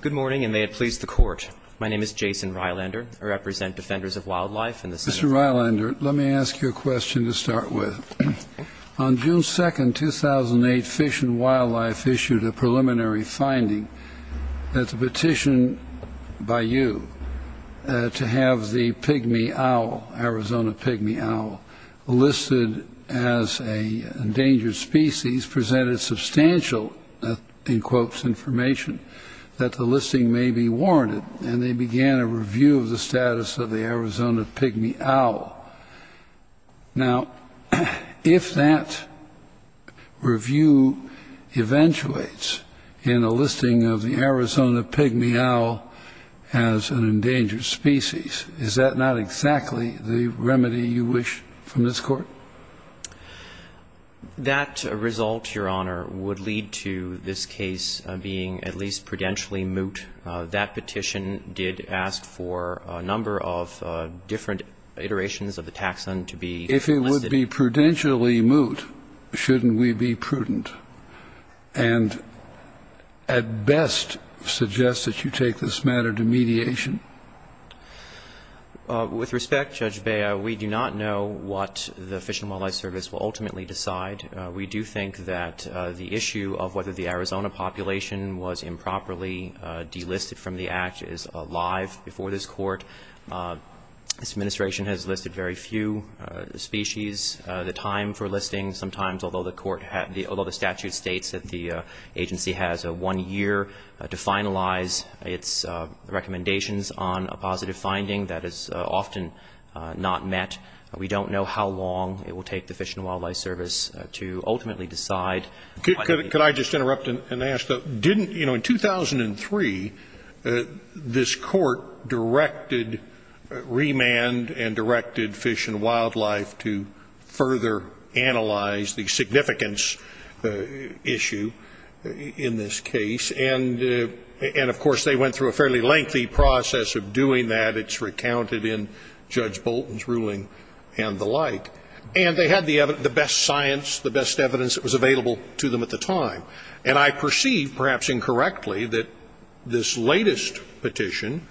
Good morning, and may it please the Court. My name is Jason Rylander. I represent Defenders of Wildlife in the Senate. Mr. Rylander, let me ask you a question to start with. On June 2, 2008, Fish and Wildlife issued a preliminary finding. It's a petition by you to have the pygmy owl, Arizona pygmy owl, listed as an endangered species, and these presented substantial, in quotes, information that the listing may be warranted. And they began a review of the status of the Arizona pygmy owl. Now, if that review eventuates in a listing of the Arizona pygmy owl as an endangered species, is that not exactly the remedy you wish from this Court? That result, Your Honor, would lead to this case being at least prudentially moot. That petition did ask for a number of different iterations of the taxon to be listed. If it would be prudentially moot, shouldn't we be prudent and at best suggest that you take this matter to mediation? With respect, Judge Bea, we do not know what the Fish and Wildlife Service will ultimately decide. We do think that the issue of whether the Arizona population was improperly delisted from the Act is alive before this Court. This Administration has listed very few species. The time for listing sometimes, although the statute states that the agency has one year to finalize its recommendations on a positive finding, that is often not met. We don't know how long it will take the Fish and Wildlife Service to ultimately decide. Could I just interrupt and ask, didn't, you know, in 2003, this Court directed remand and directed Fish and Wildlife to further analyze the significance issue in this case? And, of course, they went through a fairly lengthy process of doing that. It's recounted in Judge Bolton's ruling and the like. And they had the best science, the best evidence that was available to them at the time. And I perceive, perhaps incorrectly, that this latest petition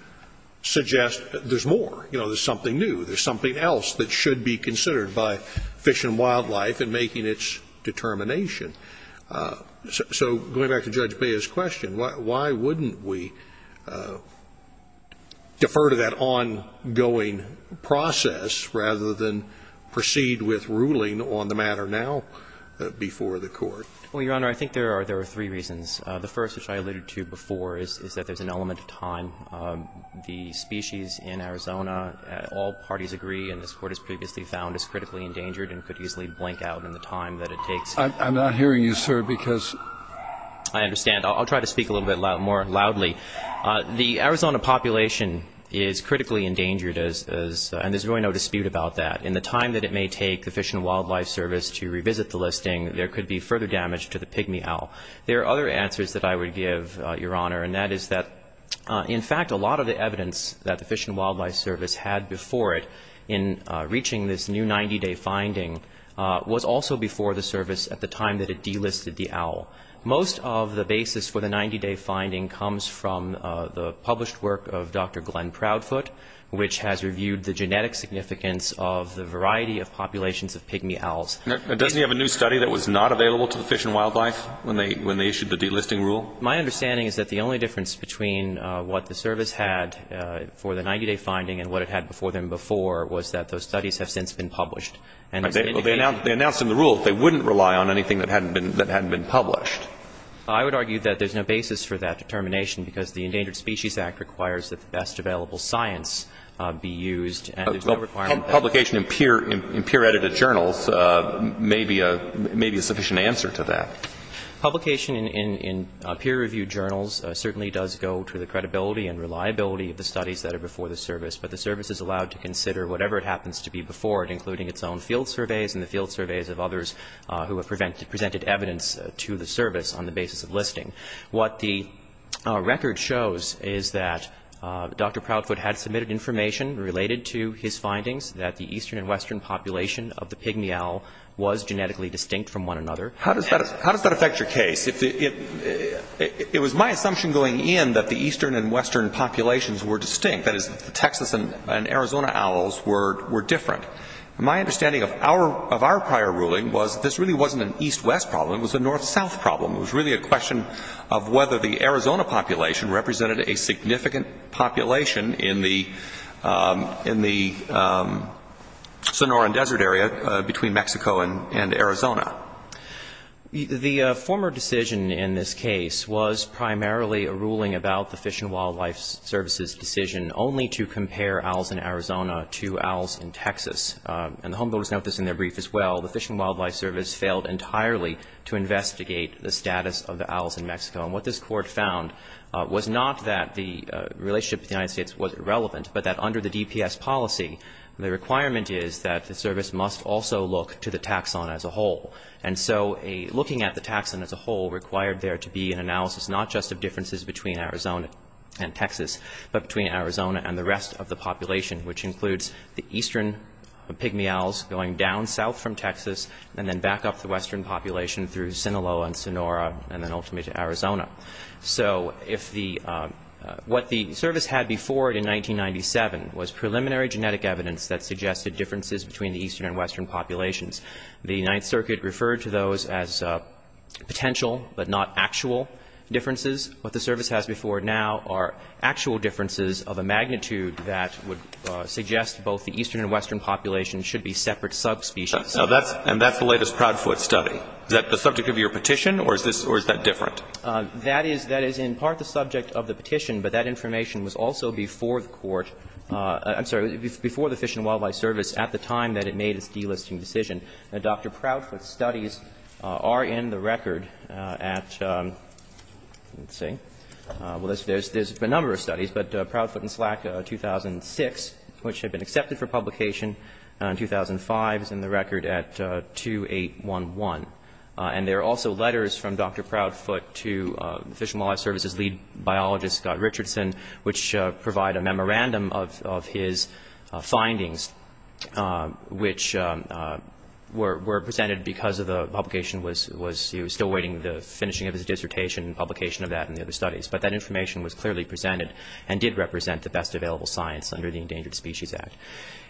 suggests that there's more. You know, there's something new. There's something else that should be considered by Fish and Wildlife in making its determination. So going back to Judge Bea's question, why wouldn't we defer to that ongoing process rather than proceed with ruling on the matter now before the Court? Well, Your Honor, I think there are three reasons. The first, which I alluded to before, is that there's an element of time. The species in Arizona, all parties agree, and this Court has previously found, is critically endangered and could easily blank out in the time that it takes. I'm not hearing you, sir, because... I understand. I'll try to speak a little bit more loudly. The Arizona population is critically endangered, and there's really no dispute about that. In the time that it may take the Fish and Wildlife Service to revisit the listing, there could be further damage to the pygmy owl. There are other answers that I would give, Your Honor, and that is that, in fact, a lot of the evidence that the Fish and Wildlife Service had before it in reaching this new 90-day finding was also before the service at the time that it delisted the owl. Most of the basis for the 90-day finding comes from the published work of Dr. Glenn Proudfoot, which has reviewed the genetic significance of the variety of populations of pygmy owls. Doesn't he have a new study that was not available to the Fish and Wildlife when they issued the delisting rule? My understanding is that the only difference between what the service had for the 90-day finding and what it had before them before was that those studies have since been published. They announced in the rule that they wouldn't rely on anything that hadn't been published. I would argue that there's no basis for that determination, because the Endangered Species Act requires that the best available science be used. Publication in peer-edited journals may be a sufficient answer to that. Publication in peer-reviewed journals certainly does go to the credibility and reliability of the studies that are before the service, but the service is allowed to consider whatever it happens to be before it, including its own field surveys and the field surveys of others who have presented evidence to the service on the basis of listing. What the record shows is that Dr. Proudfoot had submitted information related to his findings that the eastern and western population of the pygmy owl was genetically distinct from one another. How does that affect your case? It was my assumption going in that the eastern and western populations were distinct. That is, the Texas and Arizona owls were different. My understanding of our prior ruling was that this really wasn't an east-west problem. It was a north-south problem. It was really a question of whether the Arizona population represented a significant population in the Sonoran Desert area between Mexico and Arizona. The former decision in this case was primarily a ruling about the Fish and Wildlife Service's decision only to compare owls in Arizona to owls in Texas. And the homebuilders note this in their brief as well. The Fish and Wildlife Service failed entirely to investigate the status of the owls in Mexico. And what this Court found was not that the relationship with the United States was irrelevant, but that under the DPS policy, the requirement is that the service must also look to the taxon as a whole. And so looking at the taxon as a whole required there to be an analysis not just of differences between Arizona and Texas, but between Arizona and the rest of the population, which includes the eastern pigmy owls going down south from Texas and then back up the western population through Sinaloa and Sonora and then ultimately to Arizona. So if the – what the service had before it in 1997 was preliminary genetic evidence that suggested differences between the eastern and western populations. The Ninth Circuit referred to those as potential but not actual differences. What the service has before it now are actual differences of a magnitude that would suggest both the eastern and western populations should be separate subspecies. And that's the latest Proudfoot study. Is that the subject of your petition, or is this – or is that different? That is – that is in part the subject of the petition, but that information was also before the Court – I'm sorry, before the Fish and Wildlife Service at the time that it made its delisting decision. Now, Dr. Proudfoot's studies are in the record at – let's see. Well, there's a number of studies, but Proudfoot and Slack 2006, which had been accepted for publication in 2005, is in the record at 2811. And there are also letters from Dr. Proudfoot to Fish and Wildlife Service's lead biologist, Scott Richardson, which provide a memorandum of his findings, which were presented because of the publication was – he was still waiting for the finishing of his dissertation and publication of that and the other studies. But that information was clearly presented and did represent the best available science under the Endangered Species Act.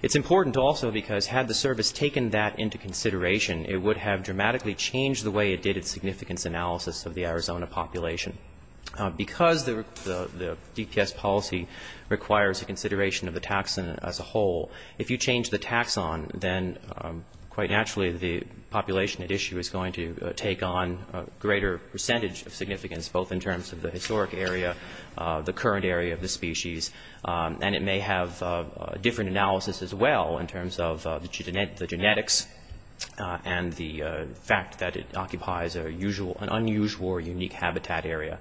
It's important also because had the service taken that into consideration, it would have dramatically changed the way it did its significance analysis of the Arizona population. Because the DPS policy requires a consideration of the taxon as a whole, if you change the taxon, then quite naturally the population at issue is going to take on a greater percentage of significance, both in terms of the historic area, the current area of the species, and it may have a different analysis as well in terms of the genetics and the fact that it occupies an unusual or unique habitat area.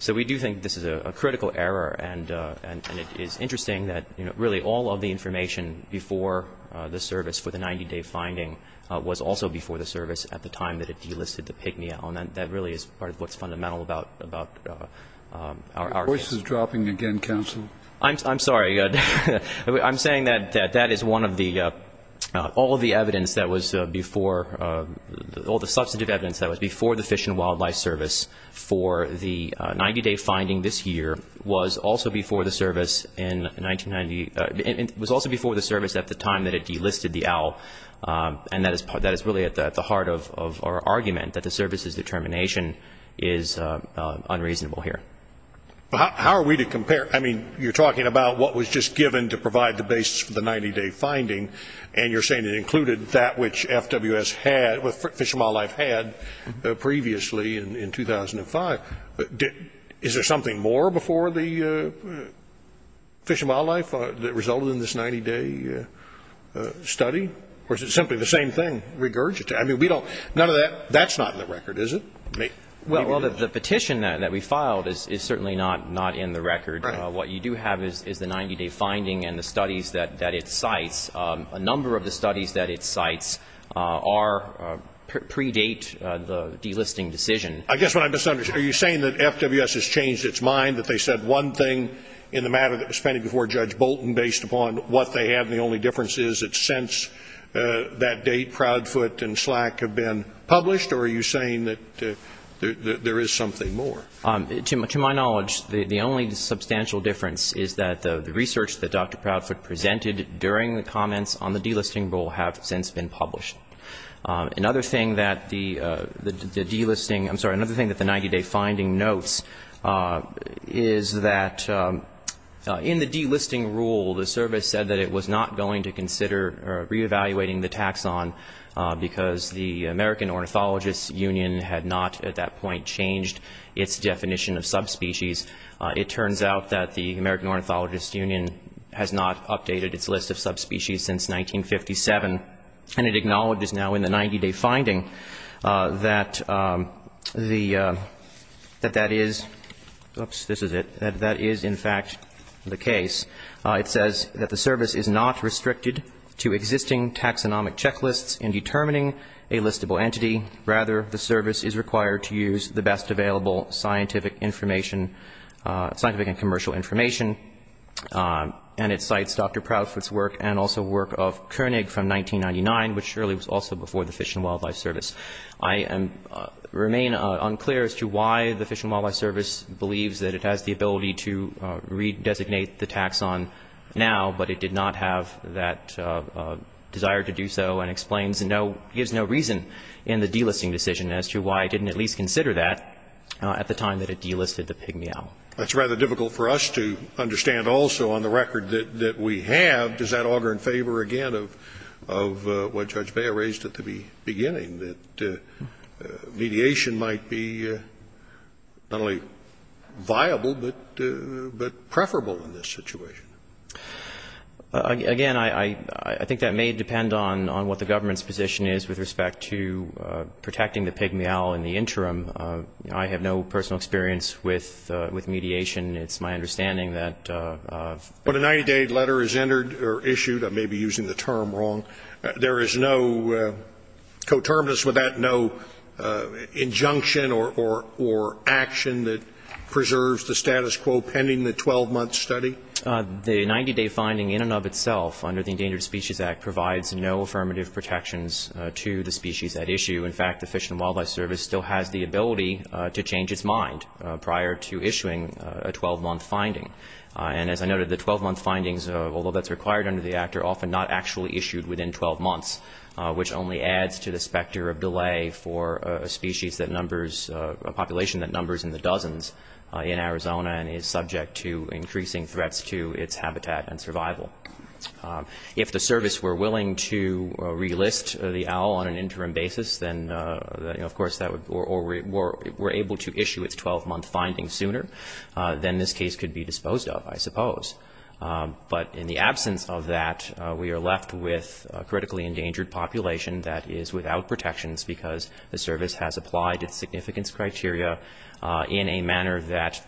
So we do think this is a critical error. And it is interesting that really all of the information before the service for the 90-day finding was also before the service at the time that it delisted the pygmy. And that really is part of what's fundamental about our case. Your voice is dropping again, counsel. I'm sorry. I'm saying that that is one of the, all of the evidence that was before, all the substantive evidence that was before the Fish and Wildlife Service for the 90-day finding this year was also before the service in 1990, was also before the service at the time that it delisted the owl, and that is really at the heart of our argument, that the service's determination is unreasonable here. How are we to compare? I mean, you're talking about what was just given to provide the basis for the 90-day finding, and you're saying it included that which FWS had, which Fish and Wildlife had previously in 2005. Is there something more before the Fish and Wildlife that resulted in this 90-day study? Or is it simply the same thing regurgitated? I mean, we don't, none of that, that's not in the record, is it? Well, the petition that we filed is certainly not in the record. Right. What you do have is the 90-day finding and the studies that it cites. A number of the studies that it cites are, predate the delisting decision. I guess what I'm misunderstanding, are you saying that FWS has changed its mind, that they said one thing in the matter that was presented before Judge Bolton based upon what they had, and the only difference is it's since that date Proudfoot and Slack have been published, or are you saying that there is something more? To my knowledge, the only substantial difference is that the research that Dr. Proudfoot presented during the comments on the delisting rule have since been published. Another thing that the delisting, I'm sorry, another thing that the 90-day finding notes is that in the delisting rule, the service said that it was not going to consider reevaluating the taxon, because the American Ornithologist Union had not at that point changed its definition of subspecies. It turns out that the American Ornithologist Union has not updated its list of subspecies since 1957, and it acknowledges now in the 90-day finding that the, that that is, oops, this is it, that that is in fact the case. It says that the service is not restricted to existing taxonomic checklists in determining a listable entity. Rather, the service is required to use the best available scientific information, scientific and commercial information, and it cites Dr. Proudfoot's work and also work of Koenig from 1999, which surely was also before the Fish and Wildlife Service. I remain unclear as to why the Fish and Wildlife Service believes that it has the ability to redesignate the taxon now, but it did not have that desire to do so and explains no, gives no reason in the delisting decision as to why it didn't at least consider that at the time that it delisted the pygmy owl. That's rather difficult for us to understand also on the record that we have. Does that augur in favor again of what Judge Beyer raised at the beginning, that mediation might be not only viable, but preferable in this situation? Again, I think that may depend on what the government's position is with respect to protecting the pygmy owl in the interim. I have no personal experience with mediation. It's my understanding that the 90-day letter is entered or issued, I may be using the term wrong, there is no coterminous with that, no injunction or action that preserves the status quo pending the 12-month study? The 90-day finding in and of itself under the Endangered Species Act provides no affirmative protections to the species at issue. In fact, the Fish and Wildlife Service still has the ability to change its mind prior to issuing a 12-month finding. And as I noted, the 12-month findings, although that's required under the Act, are often not actually issued within 12 months, which only adds to the specter of delay for a species that numbers, a population that numbers in the dozens in Arizona and is subject to increasing threats to its habitat and survival. If the service were willing to relist the owl on an interim basis, then of course that would or were able to issue its 12-month finding sooner, then this case could be disposed of, I suppose. But in the absence of that, we are left with a critically endangered population that is without protections because the service has applied its significance criteria in a manner that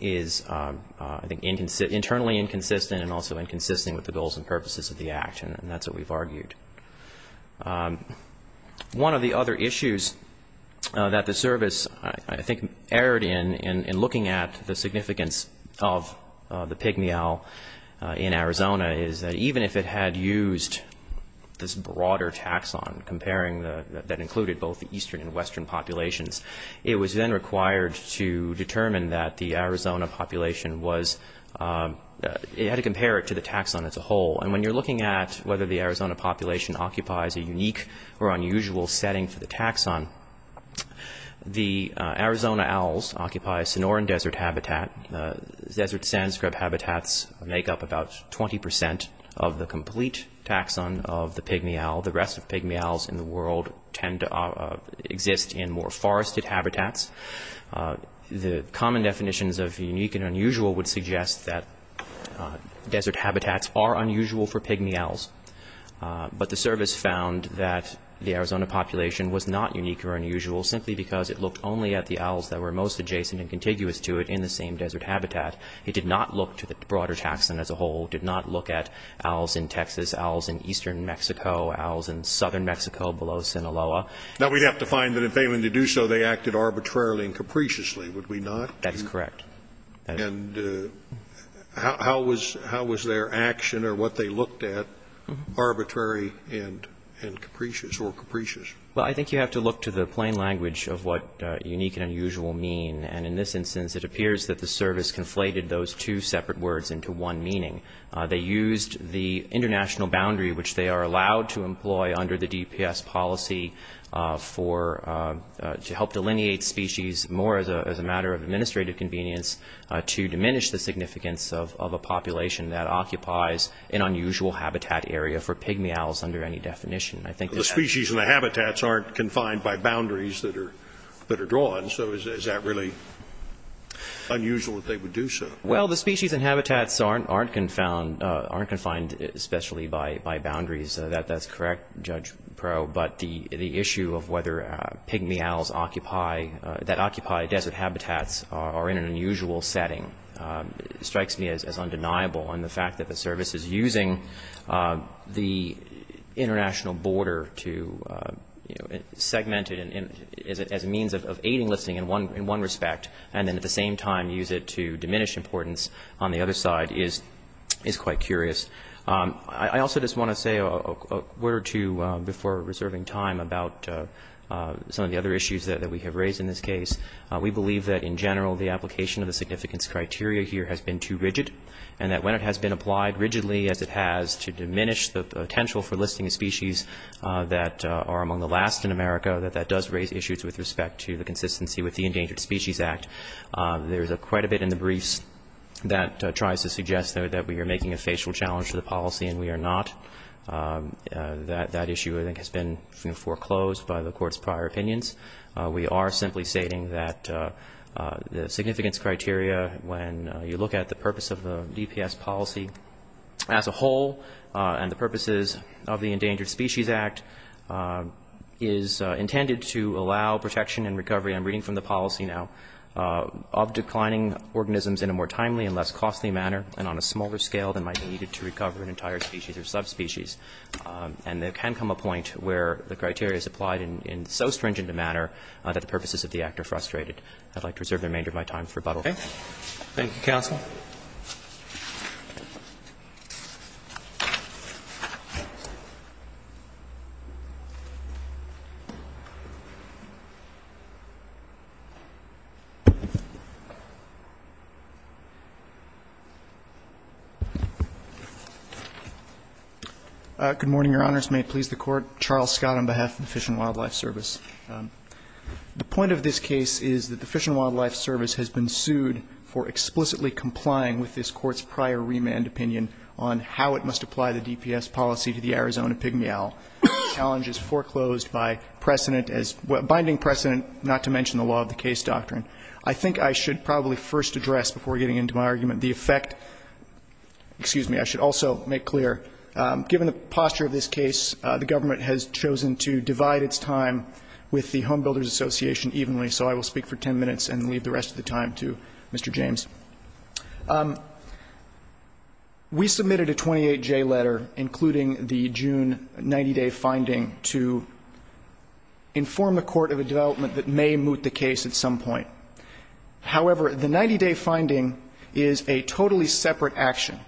is, I think, internally inconsistent and also inconsistent with the goals and purposes of the Act, and that's what we've argued. One of the other issues that the service, I think, erred in, in looking at the significance of the pig meow in Arizona, is that even if it had used this broader taxon comparing the, that included both the eastern and western populations, it was then required to determine that the Arizona population was, it had to compare it to the taxon as a whole. And when you're looking at whether the Arizona population occupies a unique or unusual setting for the taxon, the Arizona owls occupy a Sonoran Desert habitat. Desert sand scrub habitats make up about 20% of the complete taxon of the pig meow. The rest of the pig meows in the world tend to exist in more forested habitats. The common definitions of unique and unusual would suggest that desert habitats are unusual for pig meows. But the service found that the Arizona population was not unique or unusual simply because it looked only at the owls that were most adjacent and contiguous to it in the same desert habitat. It did not look to the broader taxon as a whole, did not look at owls in Texas, owls in eastern Mexico, owls in southern Mexico below Sinaloa. Now, we'd have to find that if they were to do so, they acted arbitrarily and capriciously, would we not? That is correct. And how was their action or what they looked at arbitrary and capricious or capricious? Well, I think you have to look to the plain language of what unique and unusual mean. And in this instance, it appears that the service conflated those two separate words into one meaning. They used the international boundary, which they are allowed to employ under the DPS policy for to help delineate species more as a matter of administrative convenience to diminish the significance of a population that occupies an unusual habitat area for pig meows under any definition. The species and the habitats aren't confined by boundaries that are drawn. So is that really unusual that they would do so? Well, the species and habitats aren't confined especially by boundaries. That's correct, Judge Proe. But the issue of whether pig meows occupy, that occupy desert habitats are in an unusual setting. It strikes me as undeniable. And the fact that the service is using the international border to, you know, segment it as a means of aiding listing in one respect and then at the same time use it to diminish importance on the other side is quite curious. I also just want to say a word or two before reserving time about some of the other issues that we have raised in this case. We believe that in general the application of the significance criteria here has been too rigid and that when it has been applied rigidly as it has to diminish the potential for listing a species that are among the last in America, that that does raise issues with respect to the consistency with the Endangered Species Act. There's quite a bit in the briefs that tries to suggest that we are making a facial challenge to the policy and we are not. That issue, I think, has been foreclosed by the Court's prior opinions. We are simply stating that the significance criteria when you look at the purpose of the DPS policy as a whole and the purposes of the Endangered Species Act is intended to allow protection and recovery, I'm reading from the policy now, of declining organisms in a more timely and less costly manner and on a smaller scale than might be needed to recover an entire species or subspecies. And there can come a point where the criteria is applied in so stringent a manner that the purposes of the act are frustrated. I'd like to reserve the remainder of my time for rebuttal. Okay. Thank you, Counsel. Good morning, Your Honors. May it please the Court. Charles Scott on behalf of the Fish and Wildlife Service. The point of this case is that the Fish and Wildlife Service has been sued for explicitly complying with this Court's prior remand opinion on how it must apply the DPS policy to the Arizona Pygmy Owl. The challenge is foreclosed by precedent as binding precedent, not to mention the law of the case doctrine. I think I should probably first address before getting into my argument the effect excuse me, I should also make clear, given the posture of this case, the government has chosen to divide its time with the Home Builders Association evenly. So I will speak for 10 minutes and leave the rest of the time to Mr. James. We submitted a 28-J letter, including the June 90-day finding, to inform the Court of a development that may moot the case at some point. However, the 90-day finding is a totally separate action.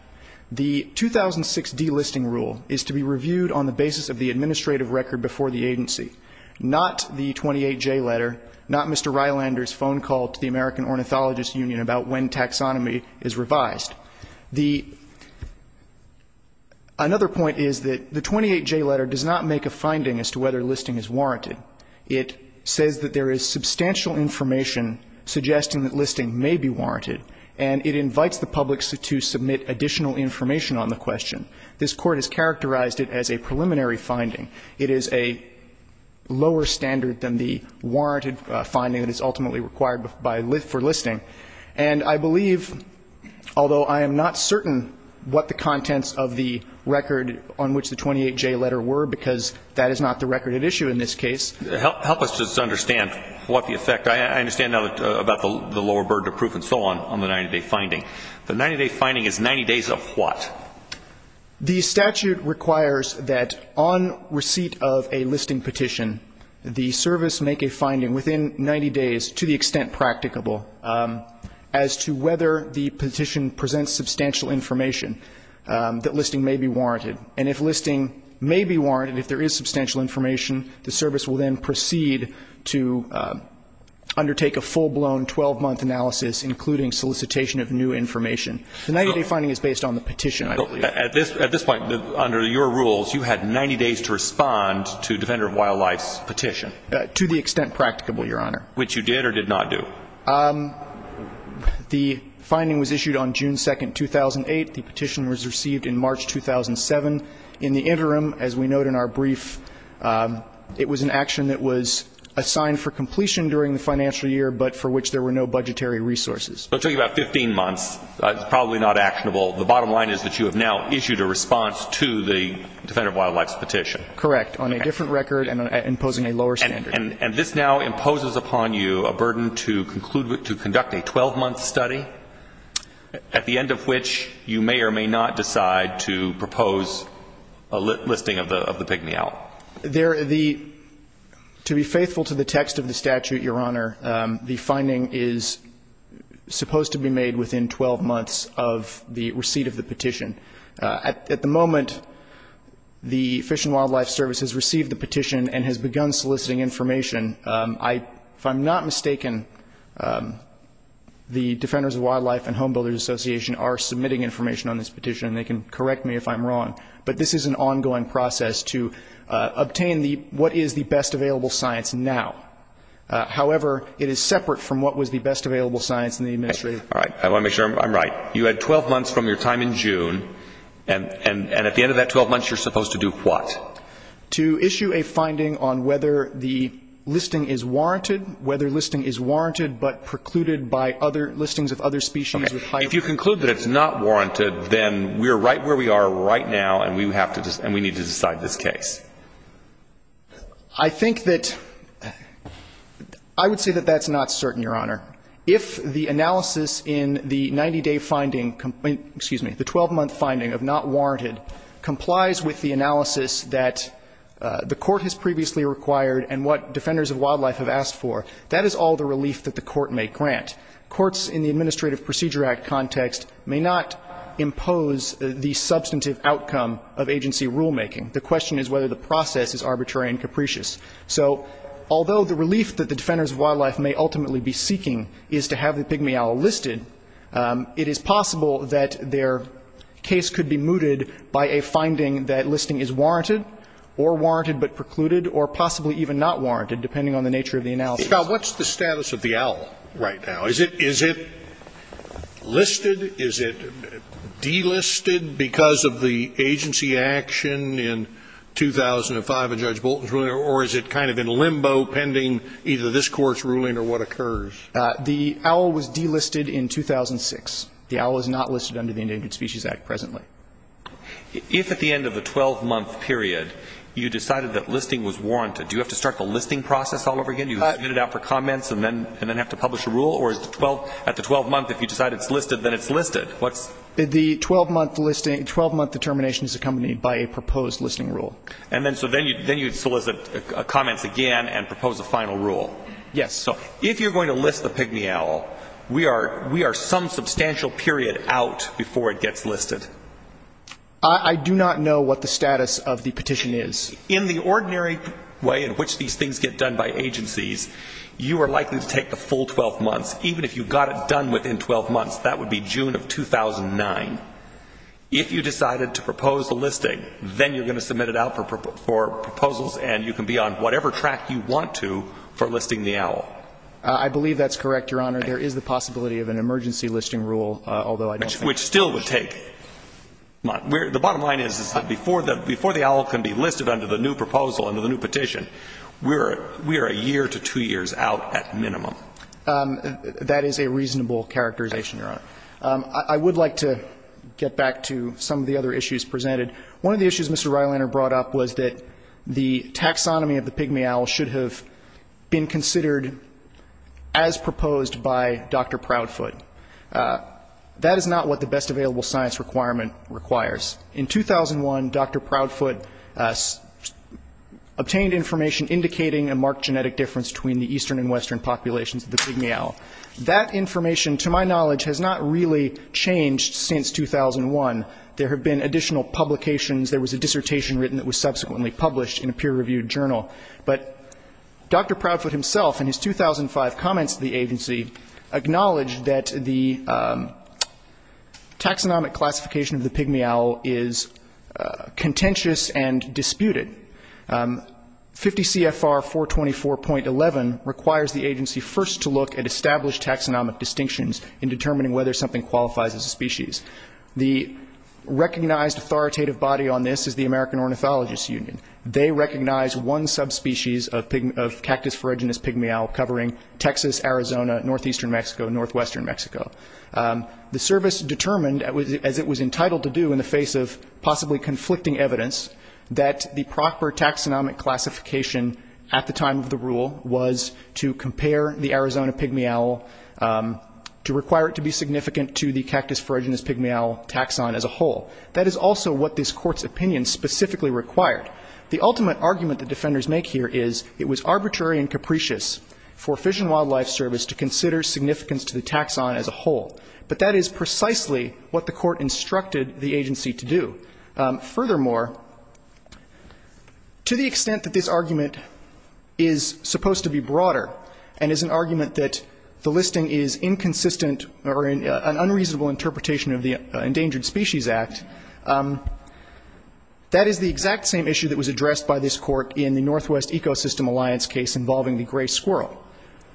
The 2006 delisting rule is to be reviewed on the basis of the administrative record before the agency, not the 28-J letter, not Mr. Rylander's phone call to the American Ornithologist Union about when taxonomy is revised. The another point is that the 28-J letter does not make a finding as to whether listing is warranted. It says that there is substantial information suggesting that listing may be warranted, and it invites the public to submit additional information on the question. This Court has characterized it as a preliminary finding. It is a lower standard than the warranted finding that is ultimately required for listing. And I believe, although I am not certain what the contents of the record on which the 28-J letter were, because that is not the record at issue in this case. Help us to understand what the effect. I understand now about the lower burden of proof and so on, on the 90-day finding. The 90-day finding is 90 days of what? The statute requires that on receipt of a listing petition, the service make a finding within 90 days to the extent practicable as to whether the petition presents substantial information that listing may be warranted. And if listing may be warranted, if there is substantial information, the service will then proceed to undertake a full-blown 12-month analysis, including solicitation of new information. The 90-day finding is based on the petition, I believe. At this point, under your rules, you had 90 days to respond to Defender of Wildlife's petition? To the extent practicable, Your Honor. Which you did or did not do? The finding was issued on June 2, 2008. The petition was received in March 2007. In the interim, as we note in our brief, it was an action that was assigned for completion during the financial year, but for which there were no budgetary resources. So it took you about 15 months. It's probably not actionable. The bottom line is that you have now issued a response to the Defender of Wildlife's petition. Correct. On a different record and imposing a lower standard. And this now imposes upon you a burden to conduct a 12-month study, at the end of which you may or may not decide to propose a listing of the pygmy owl. To be faithful to the text of the statute, Your Honor, the finding is supposed to be made within 12 months of the receipt of the petition. At the moment, the Fish and Wildlife Service has received the petition and has begun soliciting information. If I'm not mistaken, the Defenders of Wildlife and Home Builders Association are submitting information on this petition, and they can correct me if I'm wrong. But this is an ongoing process to obtain what is the best available science now. However, it is separate from what was the best available science in the administrative. All right, I want to make sure I'm right. You had 12 months from your time in June, and at the end of that 12 months you're supposed to do what? To issue a finding on whether the listing is warranted, whether listing is warranted but precluded by other listings of other species. If you conclude that it's not warranted, then we're right where we are right now, and we need to decide this case. I think that — I would say that that's not certain, Your Honor. If the analysis in the 90-day finding — excuse me, the 12-month finding of not warranted complies with the analysis that the court has previously required and what Defenders of Wildlife have asked for, that is all the relief that the court may grant. Courts in the Administrative Procedure Act context may not impose the substantive outcome of agency rulemaking. The question is whether the process is arbitrary and capricious. So although the relief that the Defenders of Wildlife may ultimately be seeking is to have the pygmy owl listed, it is possible that their case could be mooted by a finding that listing is warranted or warranted but precluded or possibly even not warranted, depending on the nature of the analysis. Scalia. Now, what's the status of the owl right now? Is it listed? Is it delisted because of the agency action in 2005 in Judge Bolton's ruling, or is it kind of in limbo pending either this Court's ruling or what occurs? The owl was delisted in 2006. The owl is not listed under the Endangered Species Act presently. If at the end of the 12-month period you decided that listing was warranted, do you have to start the listing process all over again? Do you submit it out for comments and then have to publish a rule? Or at the 12-month, if you decide it's listed, then it's listed? The 12-month determination is accompanied by a proposed listing rule. And then so then you solicit comments again and propose a final rule? Yes. So if you're going to list the pygmy owl, we are some substantial period out before it gets listed. I do not know what the status of the petition is. In the ordinary way in which these things get done by agencies, you are likely to take the full 12 months. Even if you got it done within 12 months, that would be June of 2009. If you decided to propose a listing, then you're going to submit it out for proposals and you can be on whatever track you want to for listing the owl. I believe that's correct, Your Honor. There is the possibility of an emergency listing rule, although I don't think that's the case. Which still would take months. The bottom line is that before the owl can be listed under the new proposal, under the new petition, we are a year to two years out at minimum. That is a reasonable characterization, Your Honor. I would like to get back to some of the other issues presented. One of the issues Mr. Reilander brought up was that the taxonomy of the pygmy owl should have been considered as proposed by Dr. Proudfoot. That is not what the best available science requirement requires. In 2001, Dr. Proudfoot obtained information indicating a marked genetic difference between the eastern and western populations of the pygmy owl. That information, to my knowledge, has not really changed since 2001. There have been additional publications. There was a dissertation written that was subsequently published in a peer-reviewed journal. But Dr. Proudfoot himself, in his 2005 comments to the agency, acknowledged that the taxonomic classification of the pygmy owl is contentious and disputed. 50 CFR 424.11 requires the agency first to look at established taxonomic distinctions in determining whether something qualifies as a species. The recognized authoritative body on this is the American Ornithologist Union. They recognize one subspecies of cactus pharyngitis pygmy owl covering Texas, Arizona, northeastern Mexico, and northwestern Mexico. The service determined, as it was entitled to do in the face of possibly conflicting evidence, that the proper taxonomic classification at the time of the rule was to compare the Arizona pygmy owl, to require it to be significant to the cactus pharyngitis pygmy owl taxon as a whole. That is also what this Court's opinion specifically required. The ultimate argument that defenders make here is it was arbitrary and capricious for Fish and Wildlife Service to consider significance to the taxon as a whole. But that is precisely what the Court instructed the agency to do. Furthermore, to the extent that this argument is supposed to be broader and is an argument that the listing is inconsistent or an unreasonable interpretation of the Endangered Species Act, that is the exact same issue that was addressed by this Court in the Northwest Ecosystem Alliance case involving the gray squirrel.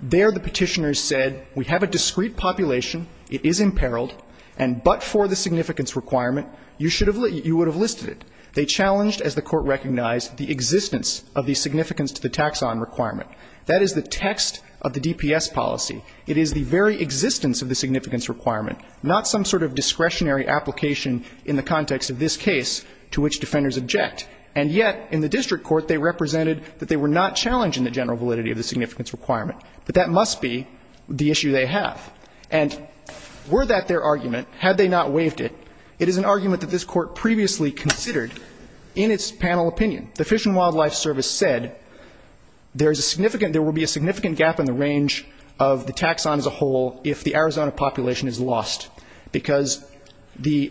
There the Petitioners said, we have a discrete population, it is imperiled, and but for the significance requirement, you should have listed it. They challenged, as the Court recognized, the existence of the significance to the taxon requirement. That is the text of the DPS policy. It is the very existence of the significance requirement, not some sort of discretionary application in the context of this case to which defenders object. And yet, in the district court, they represented that they were not challenged in the general validity of the significance requirement. But that must be the issue they have. And were that their argument, had they not waived it, it is an argument that this Court previously considered in its panel opinion. The Fish and Wildlife Service said there is a significant, there will be a significant gap in the range of the taxon as a whole if the Arizona population is lost. Because the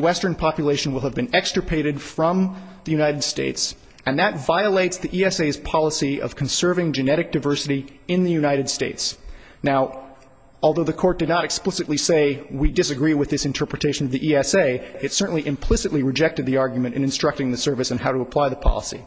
western population will have been extirpated from the United States, and that violates the ESA's policy of conserving genetic diversity in the United States. Now, although the Court did not explicitly say, we disagree with this interpretation of the ESA, it certainly implicitly rejected the argument in instructing the service on how to apply the policy.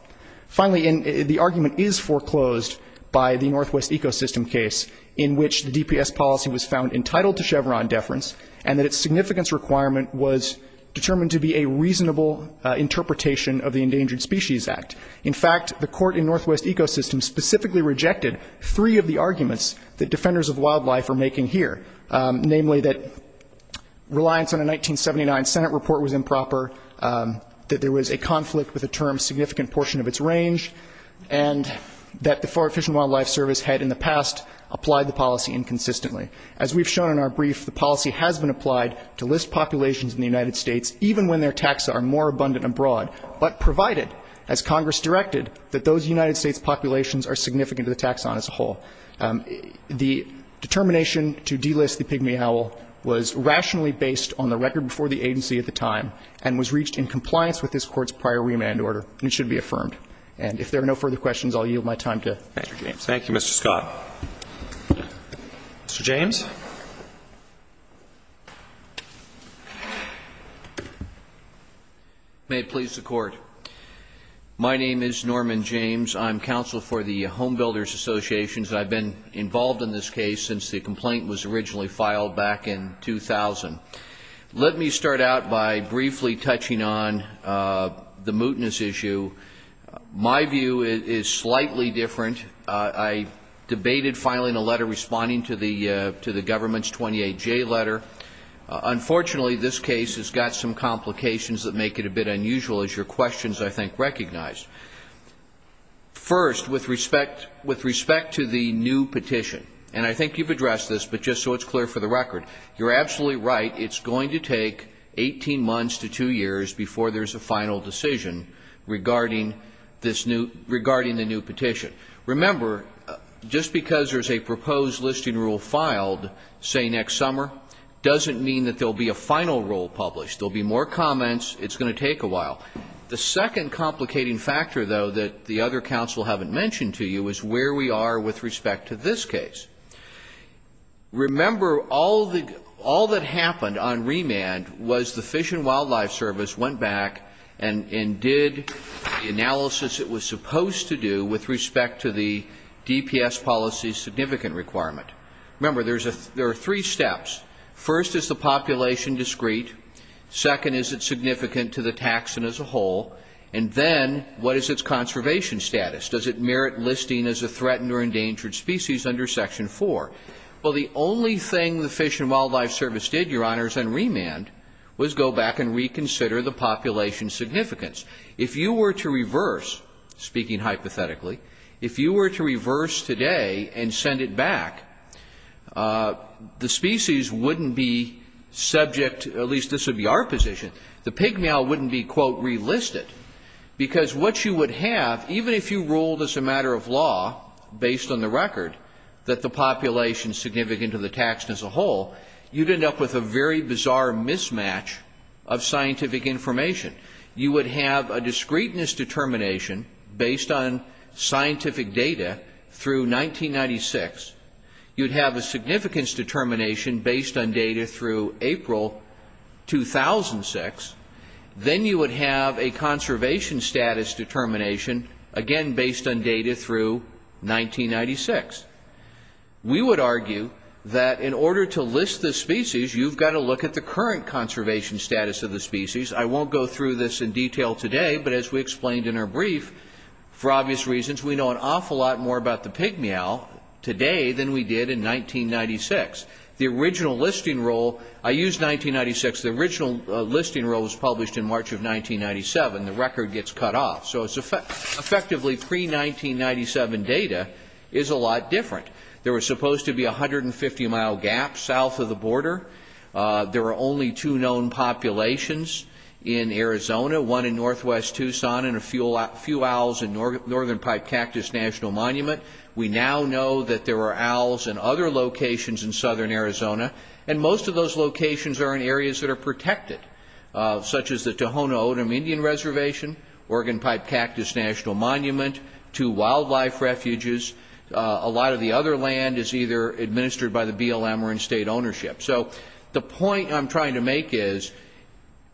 Finally, the argument is foreclosed by the Northwest Ecosystem case, in which the DPS policy was found entitled to Chevron deference, and that its significance requirement was determined to be a reasonable interpretation of the Endangered Species Act. In fact, the court in Northwest Ecosystem specifically rejected three of the arguments that defenders of wildlife are making here, namely that reliance on a 1979 Senate report was improper, that there was a conflict with a term significant portion of its range, and that the FWS had in the past applied the policy inconsistently. As we've shown in our brief, the policy has been applied to list populations in the United States, even when their taxa are more abundant abroad, but provided, as Congress directed, that those United States populations are significant to the taxon as a whole. The determination to delist the pygmy owl was rationally based on the record for the agency at the time, and was reached in compliance with this Court's prior remand order, and it should be affirmed. And if there are no further questions, I'll yield my time to Mr. James. Thank you, Mr. Scott. Mr. James. May it please the Court. My name is Norman James. I'm counsel for the Home Builders Associations, and I've been involved in this case since the complaint was originally filed back in 2000. Let me start out by briefly touching on the mootness issue. My view is slightly different. I debated filing a letter responding to the government's 28J letter. Unfortunately, this case has got some complications that make it a bit unusual, as your questions, I think, recognize. First, with respect to the new petition, and I think you've addressed this, but just so it's clear for the record, you're absolutely right. It's going to take 18 months to two years before there's a final decision regarding the new petition. Remember, just because there's a proposed listing rule filed, say, next summer, doesn't mean that there will be a final rule published. There will be more comments. It's going to take a while. The second complicating factor, though, that the other counsel haven't mentioned to you is where we are with respect to this case. Remember, all that happened on remand was the Fish and Wildlife Service went back and did the analysis it was supposed to do with respect to the DPS policy's significant requirement. Remember, there are three steps. First, is the population discreet? Second, is it significant to the taxon as a whole? And then, what is its conservation status? Does it merit listing as a threatened or endangered species under Section 4? Well, the only thing the Fish and Wildlife Service did, Your Honors, on remand was go back and reconsider the population significance. If you were to reverse, speaking hypothetically, if you were to reverse today and send it back, the species wouldn't be subject, at least this would be our position, the pig meow wouldn't be, quote, relisted. Because what you would have, even if you ruled as a matter of law, based on the record, that the population is significant to the taxon as a whole, you'd end up with a very bizarre mismatch of scientific information. You would have a discreteness determination based on scientific data through 1996. You'd have a significance determination based on data through April 2006. Then you would have a conservation status determination, again, based on data through 1996. We would argue that in order to list the species, you've got to look at the current conservation status of the species. I won't go through this in detail today, but as we explained in our brief, for obvious reasons, we know an awful lot more about the pig meow today than we did in 1996. The original listing rule, I used 1996. The original listing rule was published in March of 1997. The record gets cut off. So it's effectively pre-1997 data is a lot different. There was supposed to be a 150-mile gap south of the border. There were only two known populations in Arizona, one in northwest Tucson and a few owls in Northern Pipe Cactus National Monument. We now know that there were owls in other locations in southern Arizona, and most of those locations are in areas that are protected, such as the Tohono O'odham Indian Reservation, Oregon Pipe Cactus National Monument, two wildlife refuges. A lot of the other land is either administered by the BLM or in state ownership. So the point I'm trying to make is,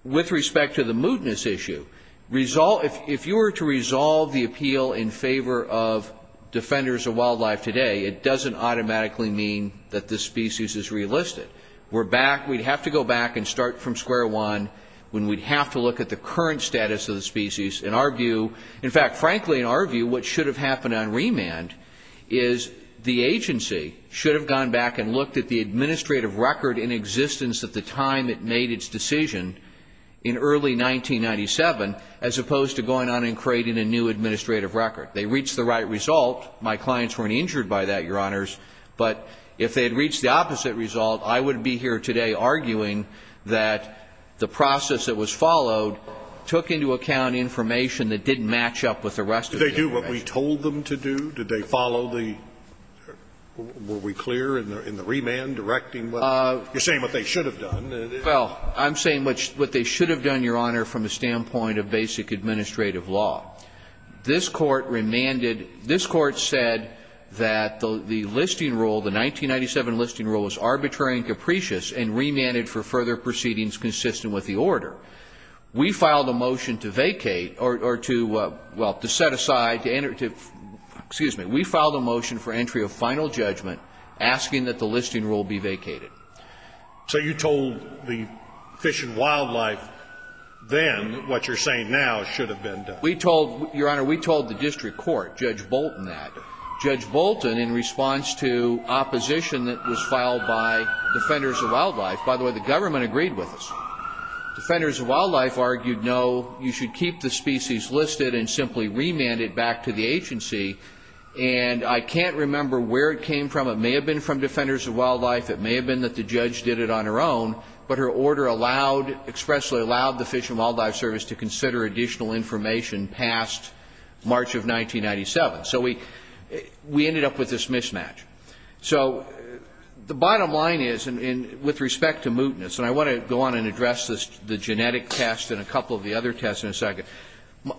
with respect to the mootness issue, if you were to resolve the appeal in favor of defenders of wildlife today, it doesn't automatically mean that this species is relisted. We'd have to go back and start from square one when we'd have to look at the current status of the species and argue. In fact, frankly, in our view, what should have happened on remand is the agency should have gone back and looked at the administrative record in existence at the time it made its decision in early 1997, as opposed to going on and creating a new administrative record. They reached the right result. My clients weren't injured by that, Your Honors. But if they had reached the opposite result, I wouldn't be here today arguing that the process that was followed took into account information that didn't match up with the rest of the information. Did they do what we told them to do? Did they follow the --? Were we clear in the remand directing what? You're saying what they should have done. Well, I'm saying what they should have done, Your Honor, from the standpoint of basic administrative law. This Court remanded --- this Court said that the listing rule, the 1997 listing rule, was arbitrary and capricious and remanded for further proceedings consistent with the order. We filed a motion to vacate or to, well, to set aside, to enter to --- excuse me. We filed a motion for entry of final judgment asking that the listing rule be vacated. So you told the Fish and Wildlife then what you're saying now should have been done. We told, Your Honor, we told the district court, Judge Bolton, that. Judge Bolton, in response to opposition that was filed by Defenders of Wildlife -- by the way, the government agreed with us. Defenders of Wildlife argued, no, you should keep the species listed and simply remand it back to the agency. And I can't remember where it came from. It may have been from Defenders of Wildlife. It may have been that the judge did it on her own. But her order allowed, expressly allowed the Fish and Wildlife Service to consider additional information past March of 1997. So we ended up with this mismatch. So the bottom line is, and with respect to mootness, and I want to go on and address the genetic test and a couple of the other tests in a second.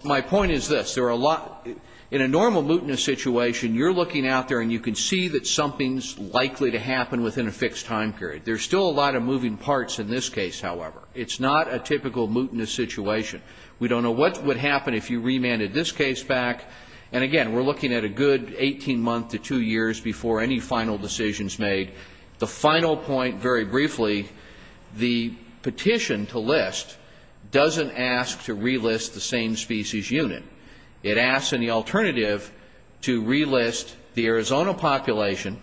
My point is this. There are a lot of --- in a normal mootness situation, you're looking out there and you can see that something's likely to happen within a fixed time period. There's still a lot of moving parts in this case, however. It's not a typical mootness situation. We don't know what would happen if you remanded this case back. And again, we're looking at a good 18 months to two years before any final decisions made. The final point, very briefly, the petition to list doesn't ask to relist the same species unit. It asks in the alternative to relist the Arizona population,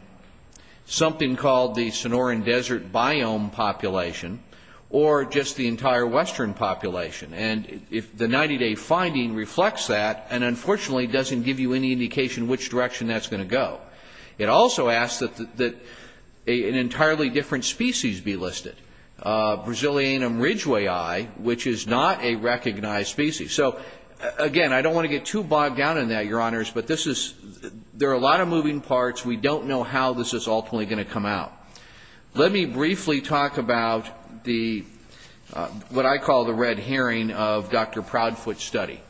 something called the Sonoran Desert biome population, or just the entire western population. And the 90-day finding reflects that and, unfortunately, doesn't give you any indication which direction that's going to go. It also asks that an entirely different species be listed, Brazilianum ridgewayi, which is not a recognized species. So, again, I don't want to get too bogged down in that, Your Honors, but there are a lot of moving parts. We don't know how this is ultimately going to come out. Let me briefly talk about what I call the red herring of Dr. Proudfoot's study.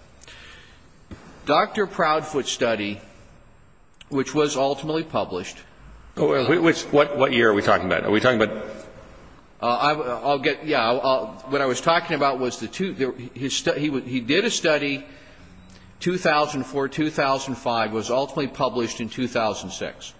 Dr. Proudfoot's study, which was ultimately published. What year are we talking about? Are we talking about? I'll get. Yeah. What I was talking about was the two. He did a study, 2004, 2005, was ultimately published in 2006.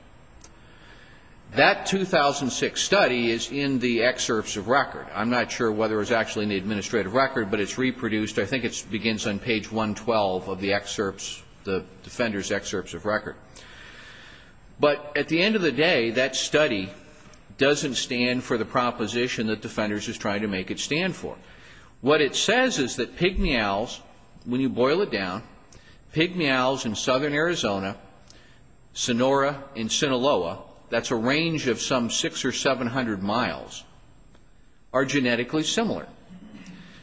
That 2006 study is in the excerpts of record. I'm not sure whether it was actually in the administrative record, but it's reproduced. I think it begins on page 112 of the excerpts, the defender's excerpts of record. But at the end of the day, that study doesn't stand for the proposition that defenders is trying to make it stand for. What it says is that pig meows, when you boil it down, pig meows in southern Arizona, Sonora and Sinaloa, that's a range of some 600 or 700 miles, are genetically similar.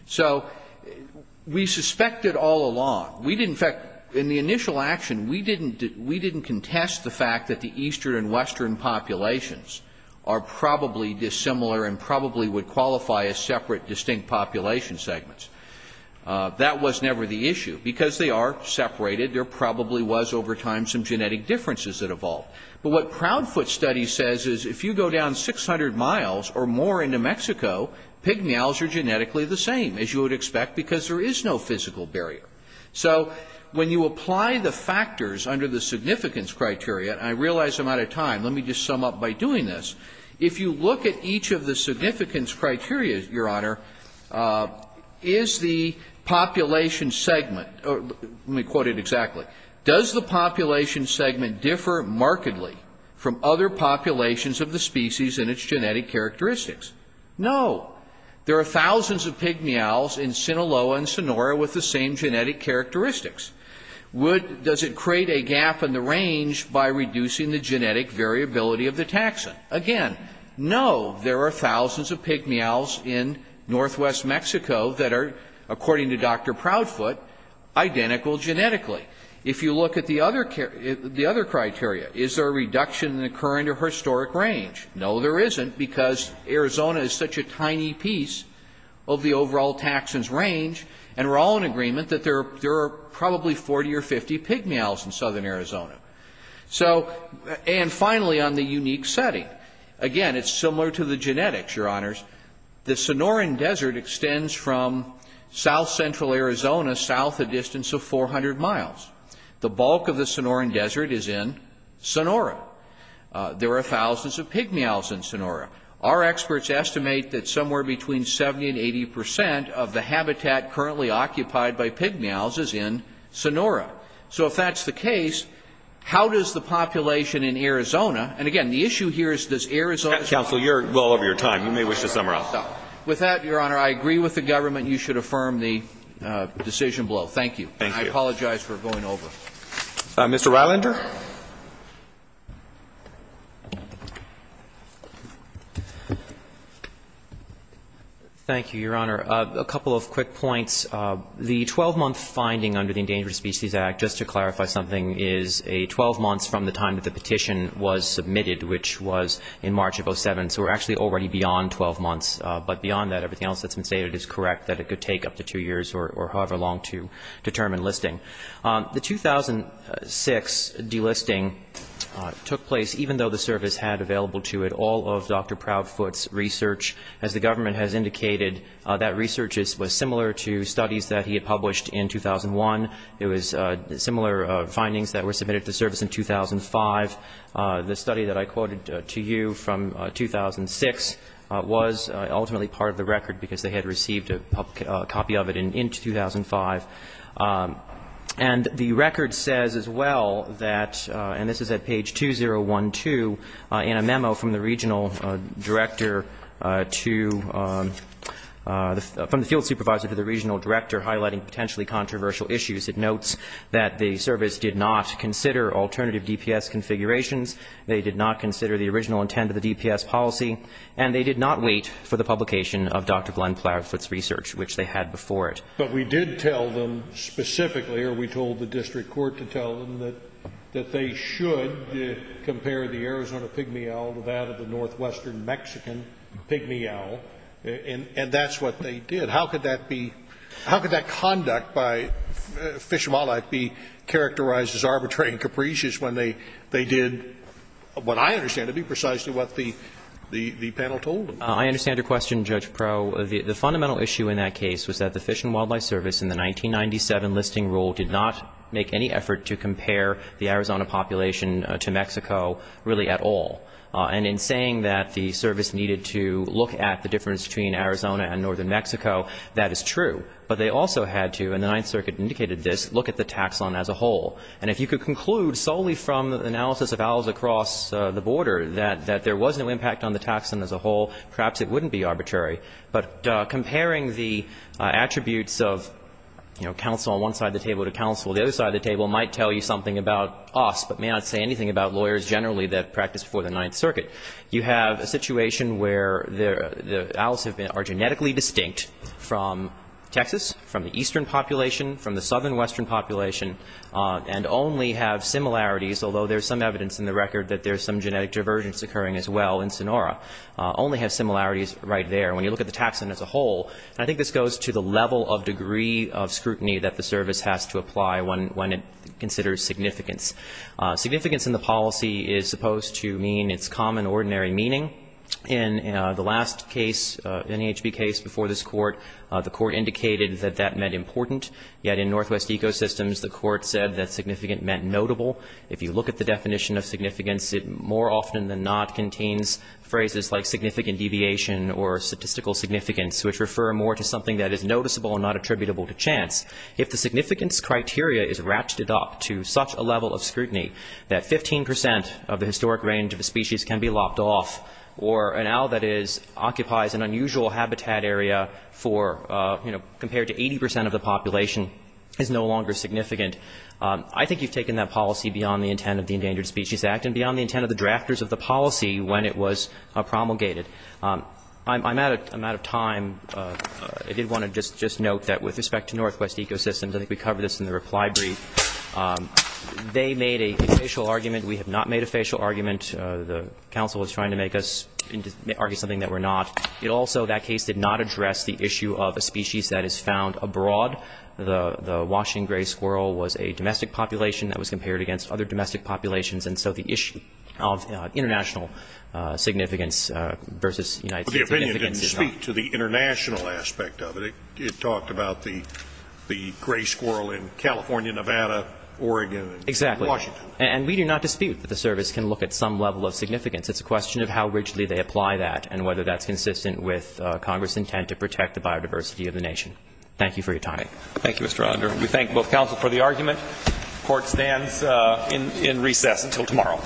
So we suspected all along. In fact, in the initial action, we didn't contest the fact that the eastern and western populations are probably dissimilar and probably would qualify as separate distinct population segments. That was never the issue. Because they are separated, there probably was over time some genetic differences that evolved. But what Proudfoot's study says is if you go down 600 miles or more into Mexico, pig meows are genetically the same, as you would expect, because there is no physical barrier. So when you apply the factors under the significance criteria, and I realize I'm out of time, let me just sum up by doing this. If you look at each of the significance criteria, Your Honor, is the population segment or let me quote it exactly, does the population segment differ markedly from other populations of the species and its genetic characteristics? No. There are thousands of pig meows in Sinaloa and Sonora with the same genetic characteristics. Does it create a gap in the range by reducing the genetic variability of the taxon? Again, no. There are thousands of pig meows in northwest Mexico that are, according to Dr. Proudfoot, identical genetically. If you look at the other criteria, is there a reduction in the current or historic range? No, there isn't, because Arizona is such a tiny piece of the overall taxon's range, and we're all in agreement that there are probably 40 or 50 pig meows in southern Arizona. And finally, on the unique setting, again, it's similar to the genetics, Your Honors. The Sonoran Desert extends from south-central Arizona south a distance of 400 miles. The bulk of the Sonoran Desert is in Sonora. There are thousands of pig meows in Sonora. Our experts estimate that somewhere between 70% and 80% of the habitat currently occupied by pig meows is in Sonora. So if that's the case, how does the population in Arizona, and, again, the issue here is does Arizona Counsel, you're well over your time. You may wish to sum it up. With that, Your Honor, I agree with the government. You should affirm the decision below. Thank you. Thank you. And I apologize for going over. Mr. Rylander. Thank you, Your Honor. A couple of quick points. The 12-month finding under the Endangered Species Act, just to clarify something, is a 12 months from the time that the petition was submitted, which was in March of 07. So we're actually already beyond 12 months, but beyond that, everything else that's been stated is correct, that it could take up to two years or however long to determine listing. The 2006 delisting took place even though the service had available to it all of Dr. Proudfoot's research. As the government has indicated, that research was similar to studies that he had published in 2001. It was similar findings that were submitted to the service in 2005. The study that I quoted to you from 2006 was ultimately part of the record because they had received a copy of it in 2005. And the record says as well that, and this is at page 2012, in a memo from the regional director to the field supervisor to the regional director highlighting potentially controversial issues, it notes that the service did not consider alternative DPS configurations, they did not consider the original intent of the DPS policy, and they did not wait for the publication of Dr. Glenn Proudfoot's research, which they had before it. But we did tell them specifically or we told the district court to tell them that they should compare the Arizona pig-me-owl to that of the northwestern Mexican pig-me-owl, and that's what they did. How could that be, how could that conduct by Fish and Wildlife be characterized as arbitrary and capricious when they did what I understand to be precisely what the panel told them? I understand your question, Judge Pro. The fundamental issue in that case was that the Fish and Wildlife Service in the 1997 listing rule did not make any effort to compare the Arizona population to Mexico really at all. And in saying that the service needed to look at the difference between Arizona and northern Mexico, that is true. But they also had to, and the Ninth Circuit indicated this, look at the taxon as a whole. And if you could conclude solely from analysis of owls across the border that there was no impact on the taxon as a whole, perhaps it wouldn't be arbitrary. But comparing the attributes of, you know, counsel on one side of the table to counsel on the other side of the table might tell you something about us, but may not say anything about lawyers generally that practiced before the Ninth Circuit. You have a situation where the owls are genetically distinct from Texas, from the eastern population, from the southern western population, and only have similarities, although there's some evidence in the record that there's some genetic divergence occurring as well in Sonora. Only have similarities right there. When you look at the taxon as a whole, I think this goes to the level of degree of scrutiny that the service has to apply when it considers significance. Significance in the policy is supposed to mean its common ordinary meaning. In the last case, NHB case before this Court, the Court indicated that that meant important, yet in Northwest Ecosystems the Court said that significant meant notable. If you look at the definition of significance, it more often than not contains phrases like significant deviation or statistical significance, which refer more to something that is noticeable and not attributable to chance. If the significance criteria is ratcheted up to such a level of scrutiny that 15 percent of the historic range of a species can be lopped off or an owl that occupies an unusual habitat area for, you know, compared to 80 percent of the population is no longer significant. I think you've taken that policy beyond the intent of the Endangered Species Act and beyond the intent of the drafters of the policy when it was promulgated. I'm out of time. I did want to just note that with respect to Northwest Ecosystems, I think we covered this in the reply brief, they made a facial argument. We have not made a facial argument. The counsel was trying to make us argue something that we're not. It also, that case did not address the issue of a species that is found abroad. The Washington gray squirrel was a domestic population that was compared against other domestic populations, and so the issue of international significance versus United States significance is not. But the opinion didn't speak to the international aspect of it. It talked about the gray squirrel in California, Nevada, Oregon, and Washington. Exactly. And we do not dispute that the service can look at some level of significance. It's a question of how rigidly they apply that and whether that's consistent with Congress' intent to protect the biodiversity of the nation. Thank you for your time. Thank you, Mr. Ronder. We thank both counsel for the argument. Court stands in recess until tomorrow.